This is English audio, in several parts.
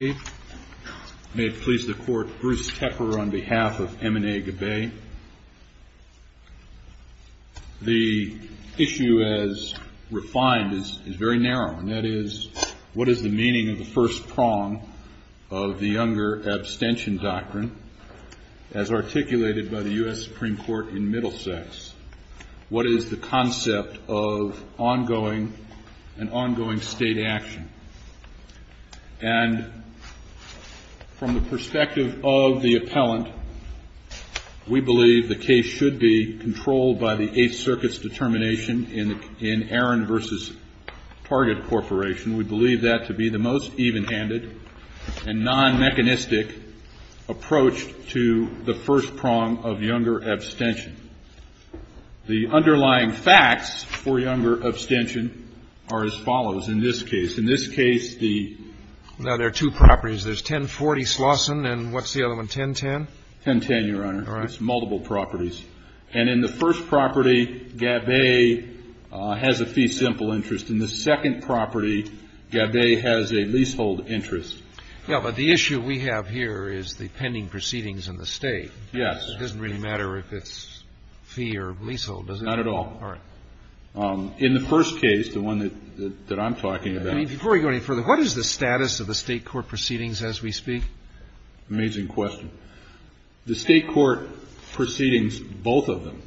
May it please the court, Bruce Tepper on behalf of M&A Gabaee. The issue as refined is very narrow, and that is, what is the meaning of the first prong of the Younger Abstention Doctrine, as articulated by the U.S. Supreme Court in Middlesex? What is the concept of an ongoing state action? And from the perspective of the appellant, we believe the case should be controlled by the Eighth Circuit's determination in Aaron v. Target Corporation. We believe that to be the most evenhanded and non-mechanistic approach to the first prong of younger abstention. The underlying facts for younger abstention are as follows in this case. In this case, the Now, there are two properties. There's 1040 Slauson and what's the other one, 1010? 1010, Your Honor. All right. It's multiple properties. And in the first property, Gabaee has a fee simple interest. In the second property, Gabaee has a leasehold interest. Yeah, but the issue we have here is the pending proceedings in the state. Yes. It doesn't really matter if it's fee or leasehold, does it? Not at all. All right. In the first case, the one that I'm talking about Before we go any further, what is the status of the state court proceedings as we speak? Amazing question. The state court proceedings, both of them,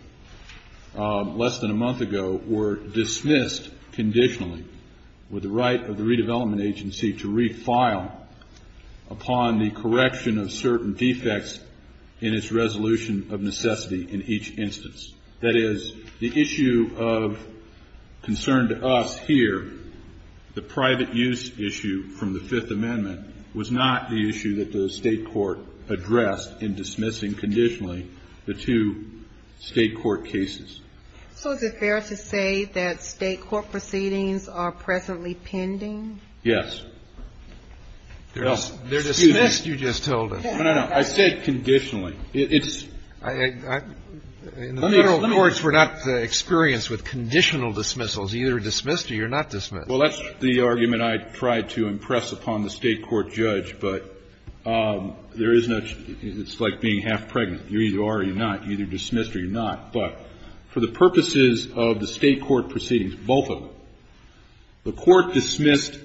less than a month ago, were dismissed conditionally with the right of the redevelopment agency to refile upon the correction of certain defects in its resolution of necessity in each instance. That is, the issue of concern to us here, the private use issue from the Fifth Amendment, was not the issue that the state court addressed in dismissing conditionally the two state court cases. So is it fair to say that state court proceedings are presently pending? Yes. They're dismissed, you just told us. No, no, no. I said conditionally. In the federal courts, we're not experienced with conditional dismissals. You're either dismissed or you're not dismissed. Well, that's the argument I tried to impress upon the state court judge. But there is no change. It's like being half-pregnant. You're either are or you're not. You're either dismissed or you're not. But for the purposes of the state court proceedings, both of them, the court dismissed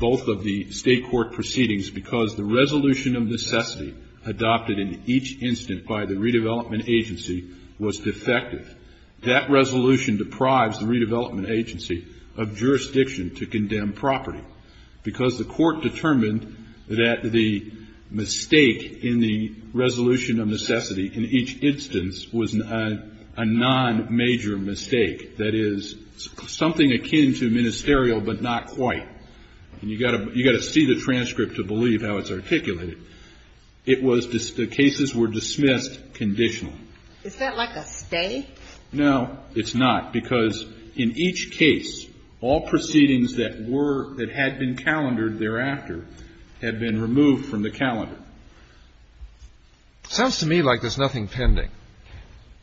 both of the state court proceedings because the resolution of necessity adopted in each instant by the redevelopment agency was defective. That resolution deprives the redevelopment agency of jurisdiction to condemn property, because the court determined that the mistake in the resolution of necessity in each instance was a non-major mistake. That is, something akin to ministerial, but not quite. And you've got to see the transcript to believe how it's articulated. It was the cases were dismissed conditionally. Is that like a stay? No, it's not, because in each case, all proceedings that were that had been calendared thereafter had been removed from the calendar. It sounds to me like there's nothing pending.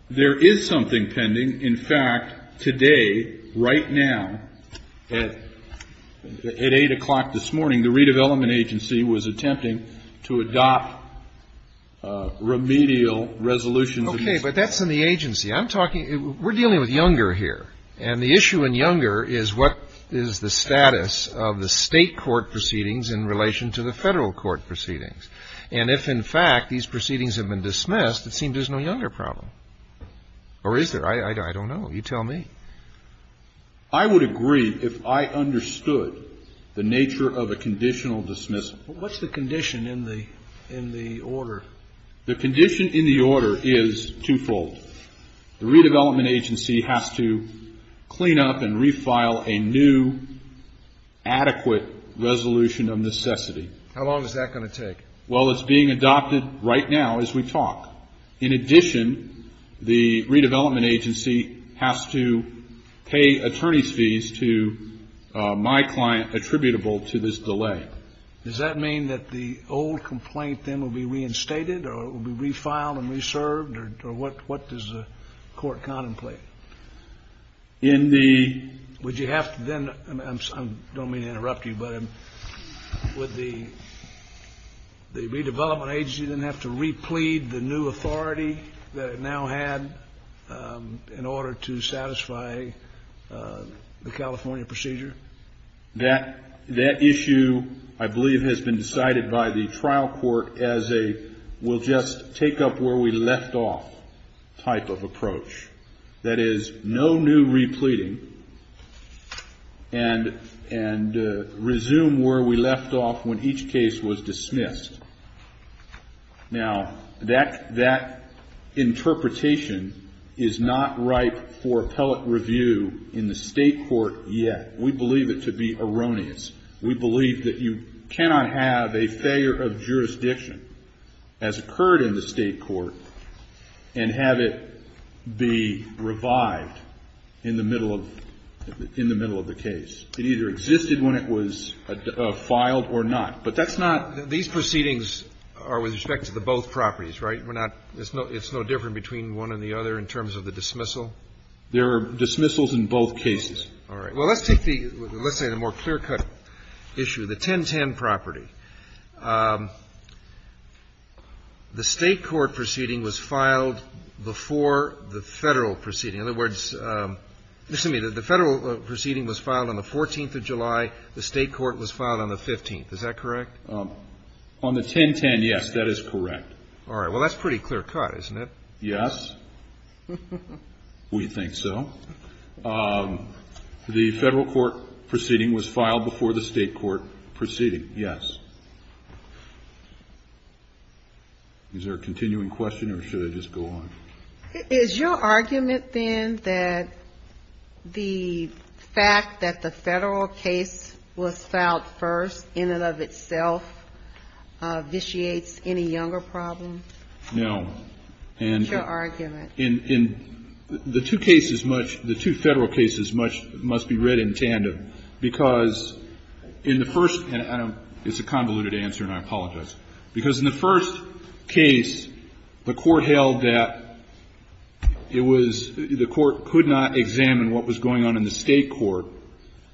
There is something pending. In fact, today, right now, at 8 o'clock this morning, the redevelopment agency was attempting to adopt remedial resolutions of necessity. Okay. But that's in the agency. I'm talking we're dealing with Younger here. And the issue in Younger is what is the status of the state court proceedings in relation to the federal court proceedings. And if, in fact, these proceedings have been dismissed, it seems there's no Younger problem. Or is there? I don't know. You tell me. I would agree if I understood the nature of a conditional dismissal. What's the condition in the order? The condition in the order is twofold. The redevelopment agency has to clean up and refile a new, adequate resolution of necessity. How long is that going to take? Well, it's being adopted right now as we talk. In addition, the redevelopment agency has to pay attorney's fees to my client attributable to this delay. Does that mean that the old complaint then will be reinstated or it will be refiled and reserved? Or what does the court contemplate? In the — Would you have to then — I don't mean to interrupt you, but would the redevelopment agency then have to replete the new authority that it now had in order to satisfy the California procedure? That issue, I believe, has been decided by the trial court as a we'll just take up where we left off type of approach. That is, no new repleting and resume where we left off when each case was dismissed. Now, that interpretation is not ripe for appellate review in the state court yet. We believe it to be erroneous. We believe that you cannot have a failure of jurisdiction as occurred in the state court and have it be revived in the middle of the case. It either existed when it was filed or not. But that's not — These proceedings are with respect to the both properties, right? We're not — it's no different between one and the other in terms of the dismissal? There are dismissals in both cases. All right. Well, let's take the — let's say the more clear-cut issue, the 1010 property. The state court proceeding was filed before the Federal proceeding. In other words — excuse me, the Federal proceeding was filed on the 14th of July. The state court was filed on the 15th. Is that correct? On the 1010, yes, that is correct. All right. Well, that's pretty clear-cut, isn't it? Yes. We think so. The Federal court proceeding was filed before the state court proceeding, yes. Is there a continuing question, or should I just go on? Is your argument, then, that the fact that the Federal case was filed first in and of itself vitiates any younger problem? No. That's your argument. In the two cases much — the two Federal cases much — must be read in tandem, because in the first — and I don't — it's a convoluted answer, and I apologize. Because in the first case, the Court held that it was — the Court could not examine what was going on in the state court,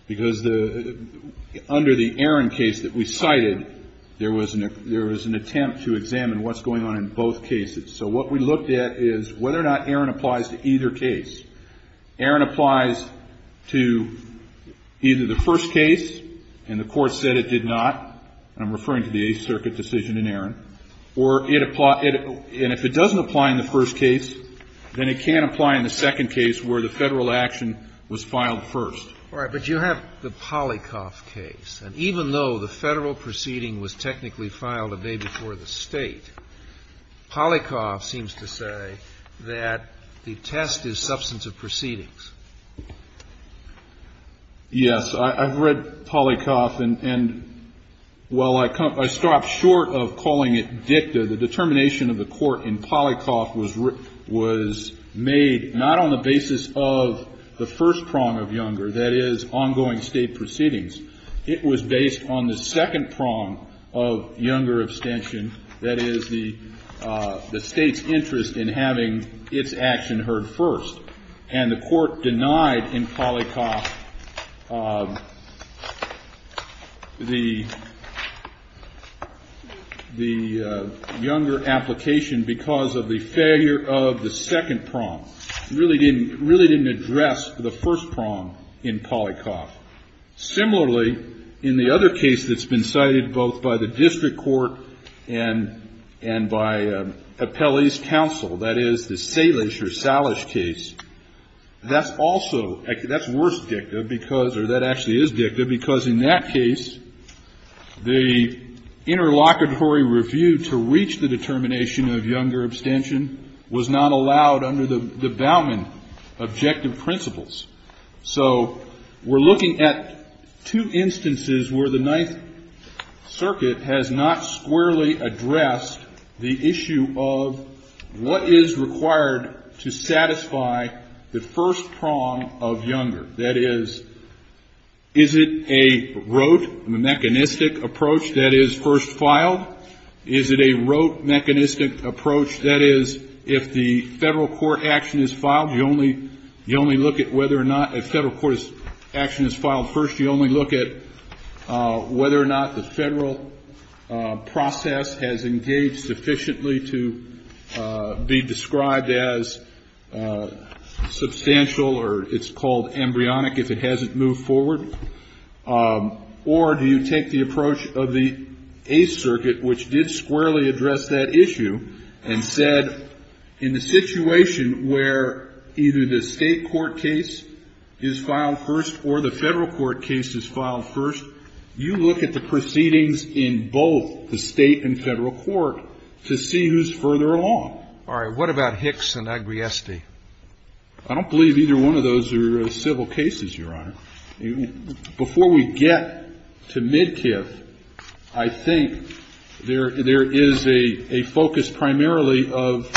because the — under the Aaron case that we cited, there was an attempt to examine what's going on in both cases. So what we looked at is whether or not Aaron applies to either case. Aaron applies to either the first case, and the Court said it did not. I'm referring to the Eighth Circuit decision in Aaron. Or it — and if it doesn't apply in the first case, then it can't apply in the second case where the Federal action was filed first. All right. But you have the Polykov case. And even though the Federal proceeding was technically filed a day before the State, Polykov seems to say that the test is substance of proceedings. Yes. I've read Polykov. And while I — I stopped short of calling it dicta, the determination of the Court in Polykov was made not on the basis of the first prong of Younger, that is, ongoing State proceedings. It was based on the second prong of Younger abstention, that is, the State's interest in having its action heard first. And the Court denied in Polykov the Younger application because of the failure of the second prong. It really didn't address the first prong in Polykov. Similarly, in the other case that's been cited both by the district court and by Appellee's counsel, that is, the Salish or Salish case, that's also — that's worse dicta because — or that actually is dicta because in that case, the interlocutory review to reach the determination of Younger abstention was not allowed under the Bauman objective principles. So we're looking at two instances where the Ninth Circuit has not squarely addressed the issue of what is required to satisfy the first prong of Younger, that is, is it a rote, a mechanistic approach that is first filed? Is it a rote, mechanistic approach, that is, if the Federal court action is filed, you only — you only look at whether or not — if Federal court action is filed first, you only look at whether or not the Federal process has engaged sufficiently to be described as substantial or it's called embryonic if it hasn't moved forward? Or do you take the approach of the Eighth Circuit, which did squarely address that issue, and said, in the situation where either the State court case is filed first or the Federal court case is filed first, you look at the proceedings in both the State and Federal court to see who's further along? All right. What about Hicks and Agriesti? I don't believe either one of those are civil cases, Your Honor. Before we get to Midkiff, I think there is a focus primarily of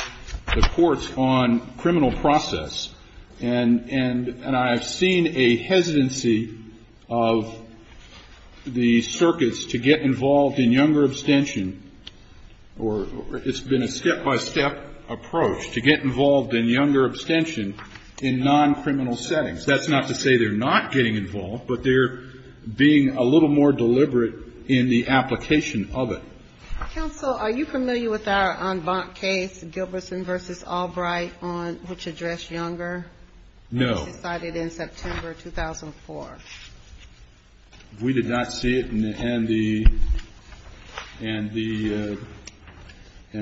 the courts on criminal process. And I have seen a hesitancy of the circuits to get involved in Younger abstention or it's been a step-by-step approach to get involved in Younger abstention in non-criminal settings. That's not to say they're not getting involved, but they're being a little more deliberate in the application of it. Counsel, are you familiar with our en banc case, Gilbertson v. Albright, which addressed Younger? No. It was decided in September 2004. We did not see it, and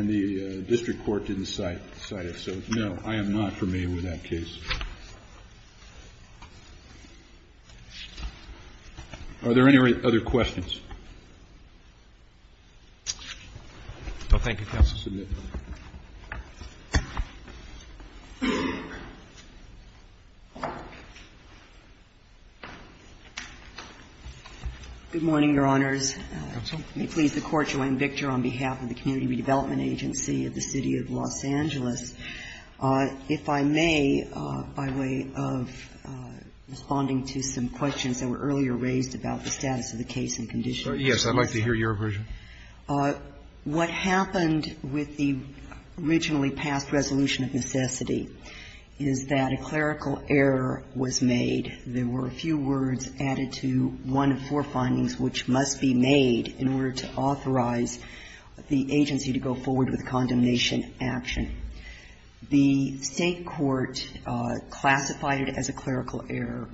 the district court didn't cite it. So, no, I am not familiar with that case. Are there any other questions? No, thank you, counsel. Good morning, Your Honors. Counsel. May it please the Court, I'm Victor, on behalf of the Community Redevelopment Agency of the City of Los Angeles. If I may, by way of responding to some questions that were earlier raised about the status of the case and conditions. Yes, I'd like to hear your version. What happened with the originally passed resolution of necessity is that a clerical error was made. There were a few words added to one of four findings which must be made in order to authorize the agency to go forward with condemnation action. The State court classified it as a clerical error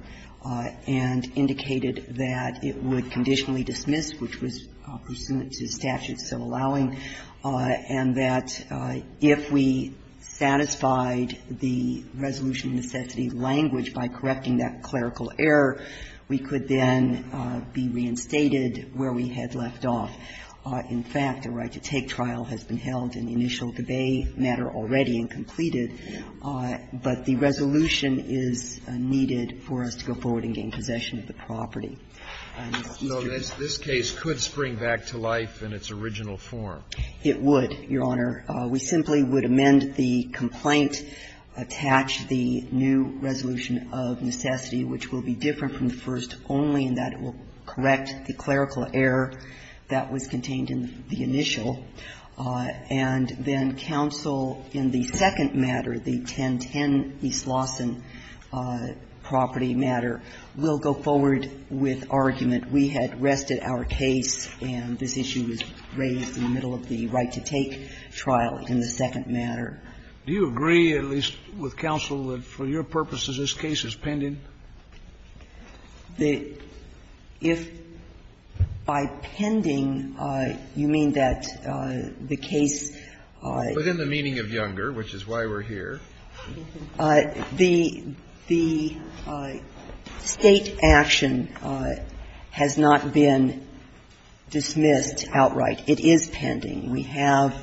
and indicated that it would conditionally dismiss, which was pursuant to statute so allowing, and that if we satisfied the resolution of necessity language by correcting that clerical error, we could then be reinstated where we had left off. In fact, a right to take trial has been held in the initial debate matter already and completed, but the resolution is needed for us to go forward and gain possession of the property. So this case could spring back to life in its original form. It would, Your Honor. We simply would amend the complaint, attach the new resolution of necessity, which will be different from the first only in that it will correct the clerical error that was contained in the initial, and then counsel in the second matter, the 1010 East Lawson property matter, will go forward with argument, we had rested our case and this issue was raised in the middle of the right to take trial in the second matter. Do you agree, at least with counsel, that for your purposes this case is pending? If by pending, you mean that the case was in the meaning of Younger, which is why we're here. The State action has not been dismissed outright. It is pending. We have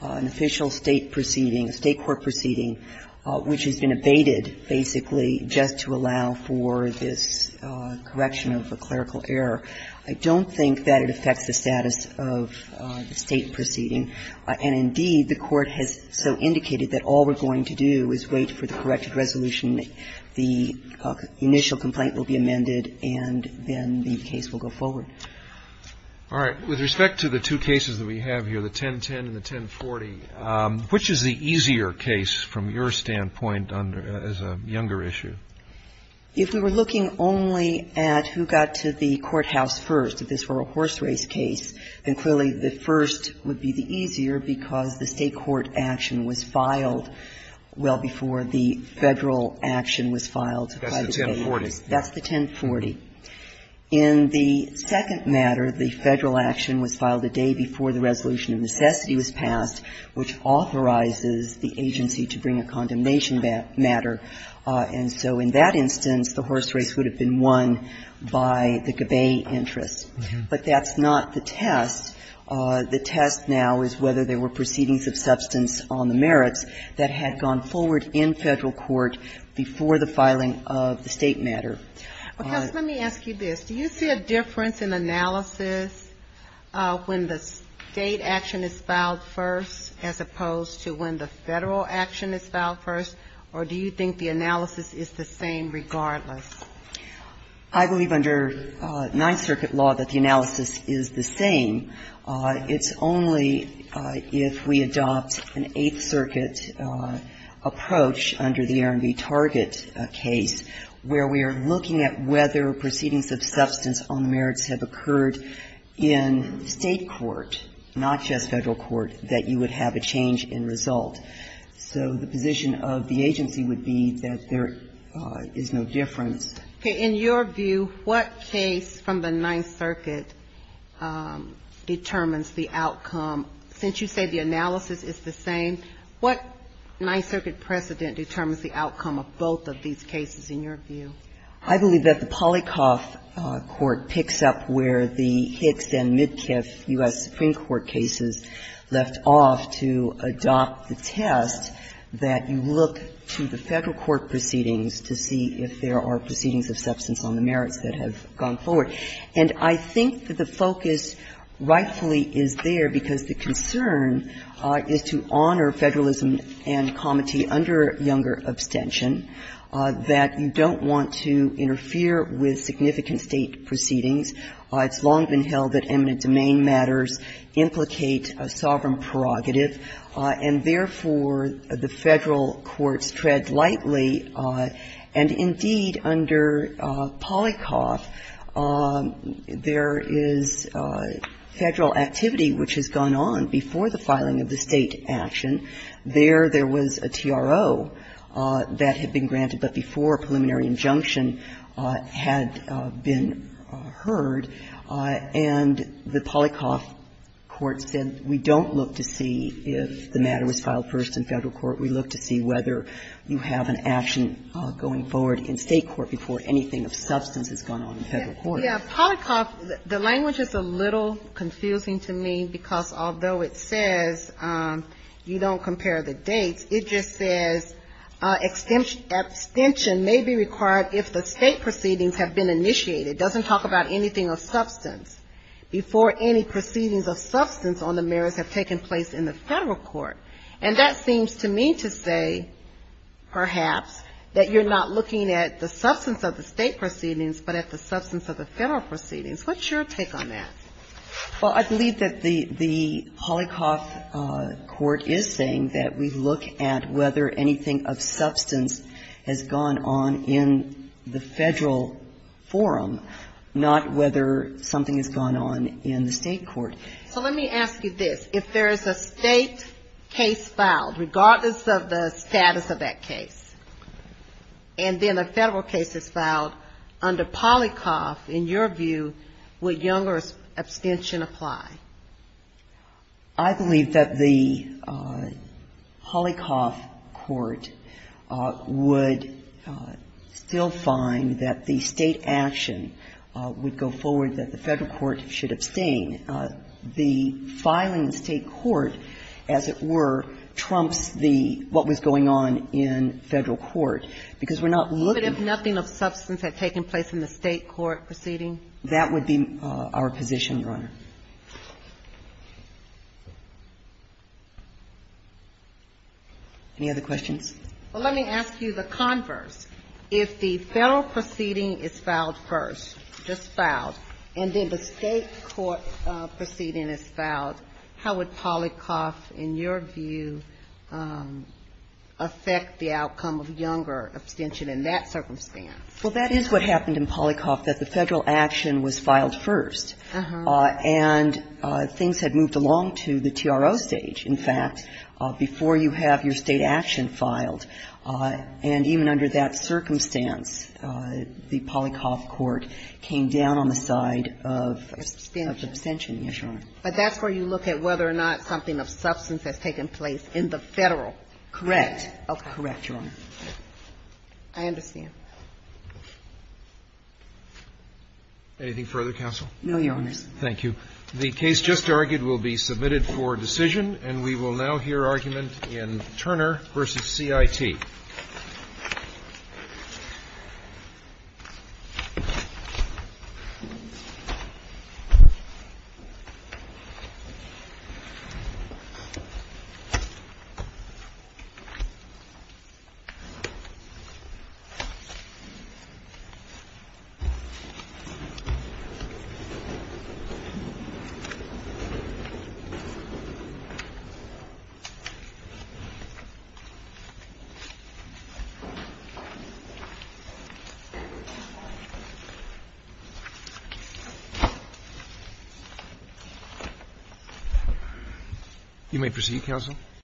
an official State proceeding, a State court proceeding, which has been abated basically just to allow for this correction of a clerical error. I don't think that it affects the status of the State proceeding. And, indeed, the Court has so indicated that all we're going to do is wait for the corrected resolution. The initial complaint will be amended and then the case will go forward. All right. With respect to the two cases that we have here, the 1010 and the 1040, which is the case that has a Younger issue? If we were looking only at who got to the courthouse first, if this were a horse race case, then clearly the first would be the easier, because the State court action was filed well before the Federal action was filed by the case. That's the 1040. That's the 1040. In the second matter, the Federal action was filed a day before the resolution of necessity was passed, which authorizes the agency to bring a condemnation to a non-combat matter. And so in that instance, the horse race would have been won by the Gabay interests. But that's not the test. The test now is whether there were proceedings of substance on the merits that had gone forward in Federal court before the filing of the State matter. Let me ask you this. Do you see a difference in analysis when the State action is filed first as opposed to when the Federal action is filed first, or do you think the analysis is the same regardless? I believe under Ninth Circuit law that the analysis is the same. It's only if we adopt an Eighth Circuit approach under the R&B Target case where we are looking at whether proceedings of substance on the merits have occurred in State court, not just Federal court, that you would have a change in result. So the position of the agency would be that there is no difference. Okay. In your view, what case from the Ninth Circuit determines the outcome? Since you say the analysis is the same, what Ninth Circuit precedent determines the outcome of both of these cases in your view? I believe that the Polykov court picks up where the Hicks and Midkiff U.S. Supreme Court cases left off to adopt the test, that you look to the Federal court proceedings to see if there are proceedings of substance on the merits that have gone forward. And I think that the focus rightfully is there because the concern is to honor Federalism and comity under younger abstention, that you don't want to interfere with significant State proceedings. It's long been held that eminent domain matters implicate a sovereign prerogative, and therefore, the Federal courts tread lightly. And indeed, under Polykov, there is Federal activity which has gone on before the filing of the State action. There, there was a TRO that had been granted, but before a preliminary injunction had been heard, and the Polykov court said, we don't look to see if the matter was filed first in Federal court. We look to see whether you have an action going forward in State court before anything of substance has gone on in Federal court. Yeah. Polykov, the language is a little confusing to me because although it says you don't compare the dates, it just says abstention may be required if the State proceedings have been initiated. It doesn't talk about anything of substance before any proceedings of substance on the merits have taken place in the Federal court. And that seems to me to say, perhaps, that you're not looking at the substance of the State proceedings, but at the substance of the Federal proceedings. What's your take on that? Well, I believe that the Polykov court is saying that we look at whether anything of substance has gone on in the Federal forum, not whether something has gone on in the State court. So let me ask you this. If there is a State case filed, regardless of the status of that case, and then a Federal case is filed under Polykov, in your view, would Younger's abstention apply? I believe that the Polykov court would still find that the State action would go forward that the Federal court should abstain. The filing in State court, as it were, trumps the what was going on in Federal court, because we're not looking at the substance of the Federal court. But if nothing of substance had taken place in the State court proceeding? That would be our position, Your Honor. Any other questions? Well, let me ask you the converse. If the Federal proceeding is filed first, just filed, and then the State court proceeding is filed, how would Polykov, in your view, affect the outcome of Younger's abstention in that circumstance? Well, that is what happened in Polykov, that the Federal action was filed first. And things had moved along to the TRO stage, in fact, before you have your State action filed. And even under that circumstance, the Polykov court came down on the side of abstention. But that's where you look at whether or not something of substance has taken place in the Federal. Correct. Correct, Your Honor. I understand. Anything further, counsel? No, Your Honor. Thank you. The case just argued will be submitted for decision. And we will now hear argument in Turner v. CIT. You may proceed, counsel.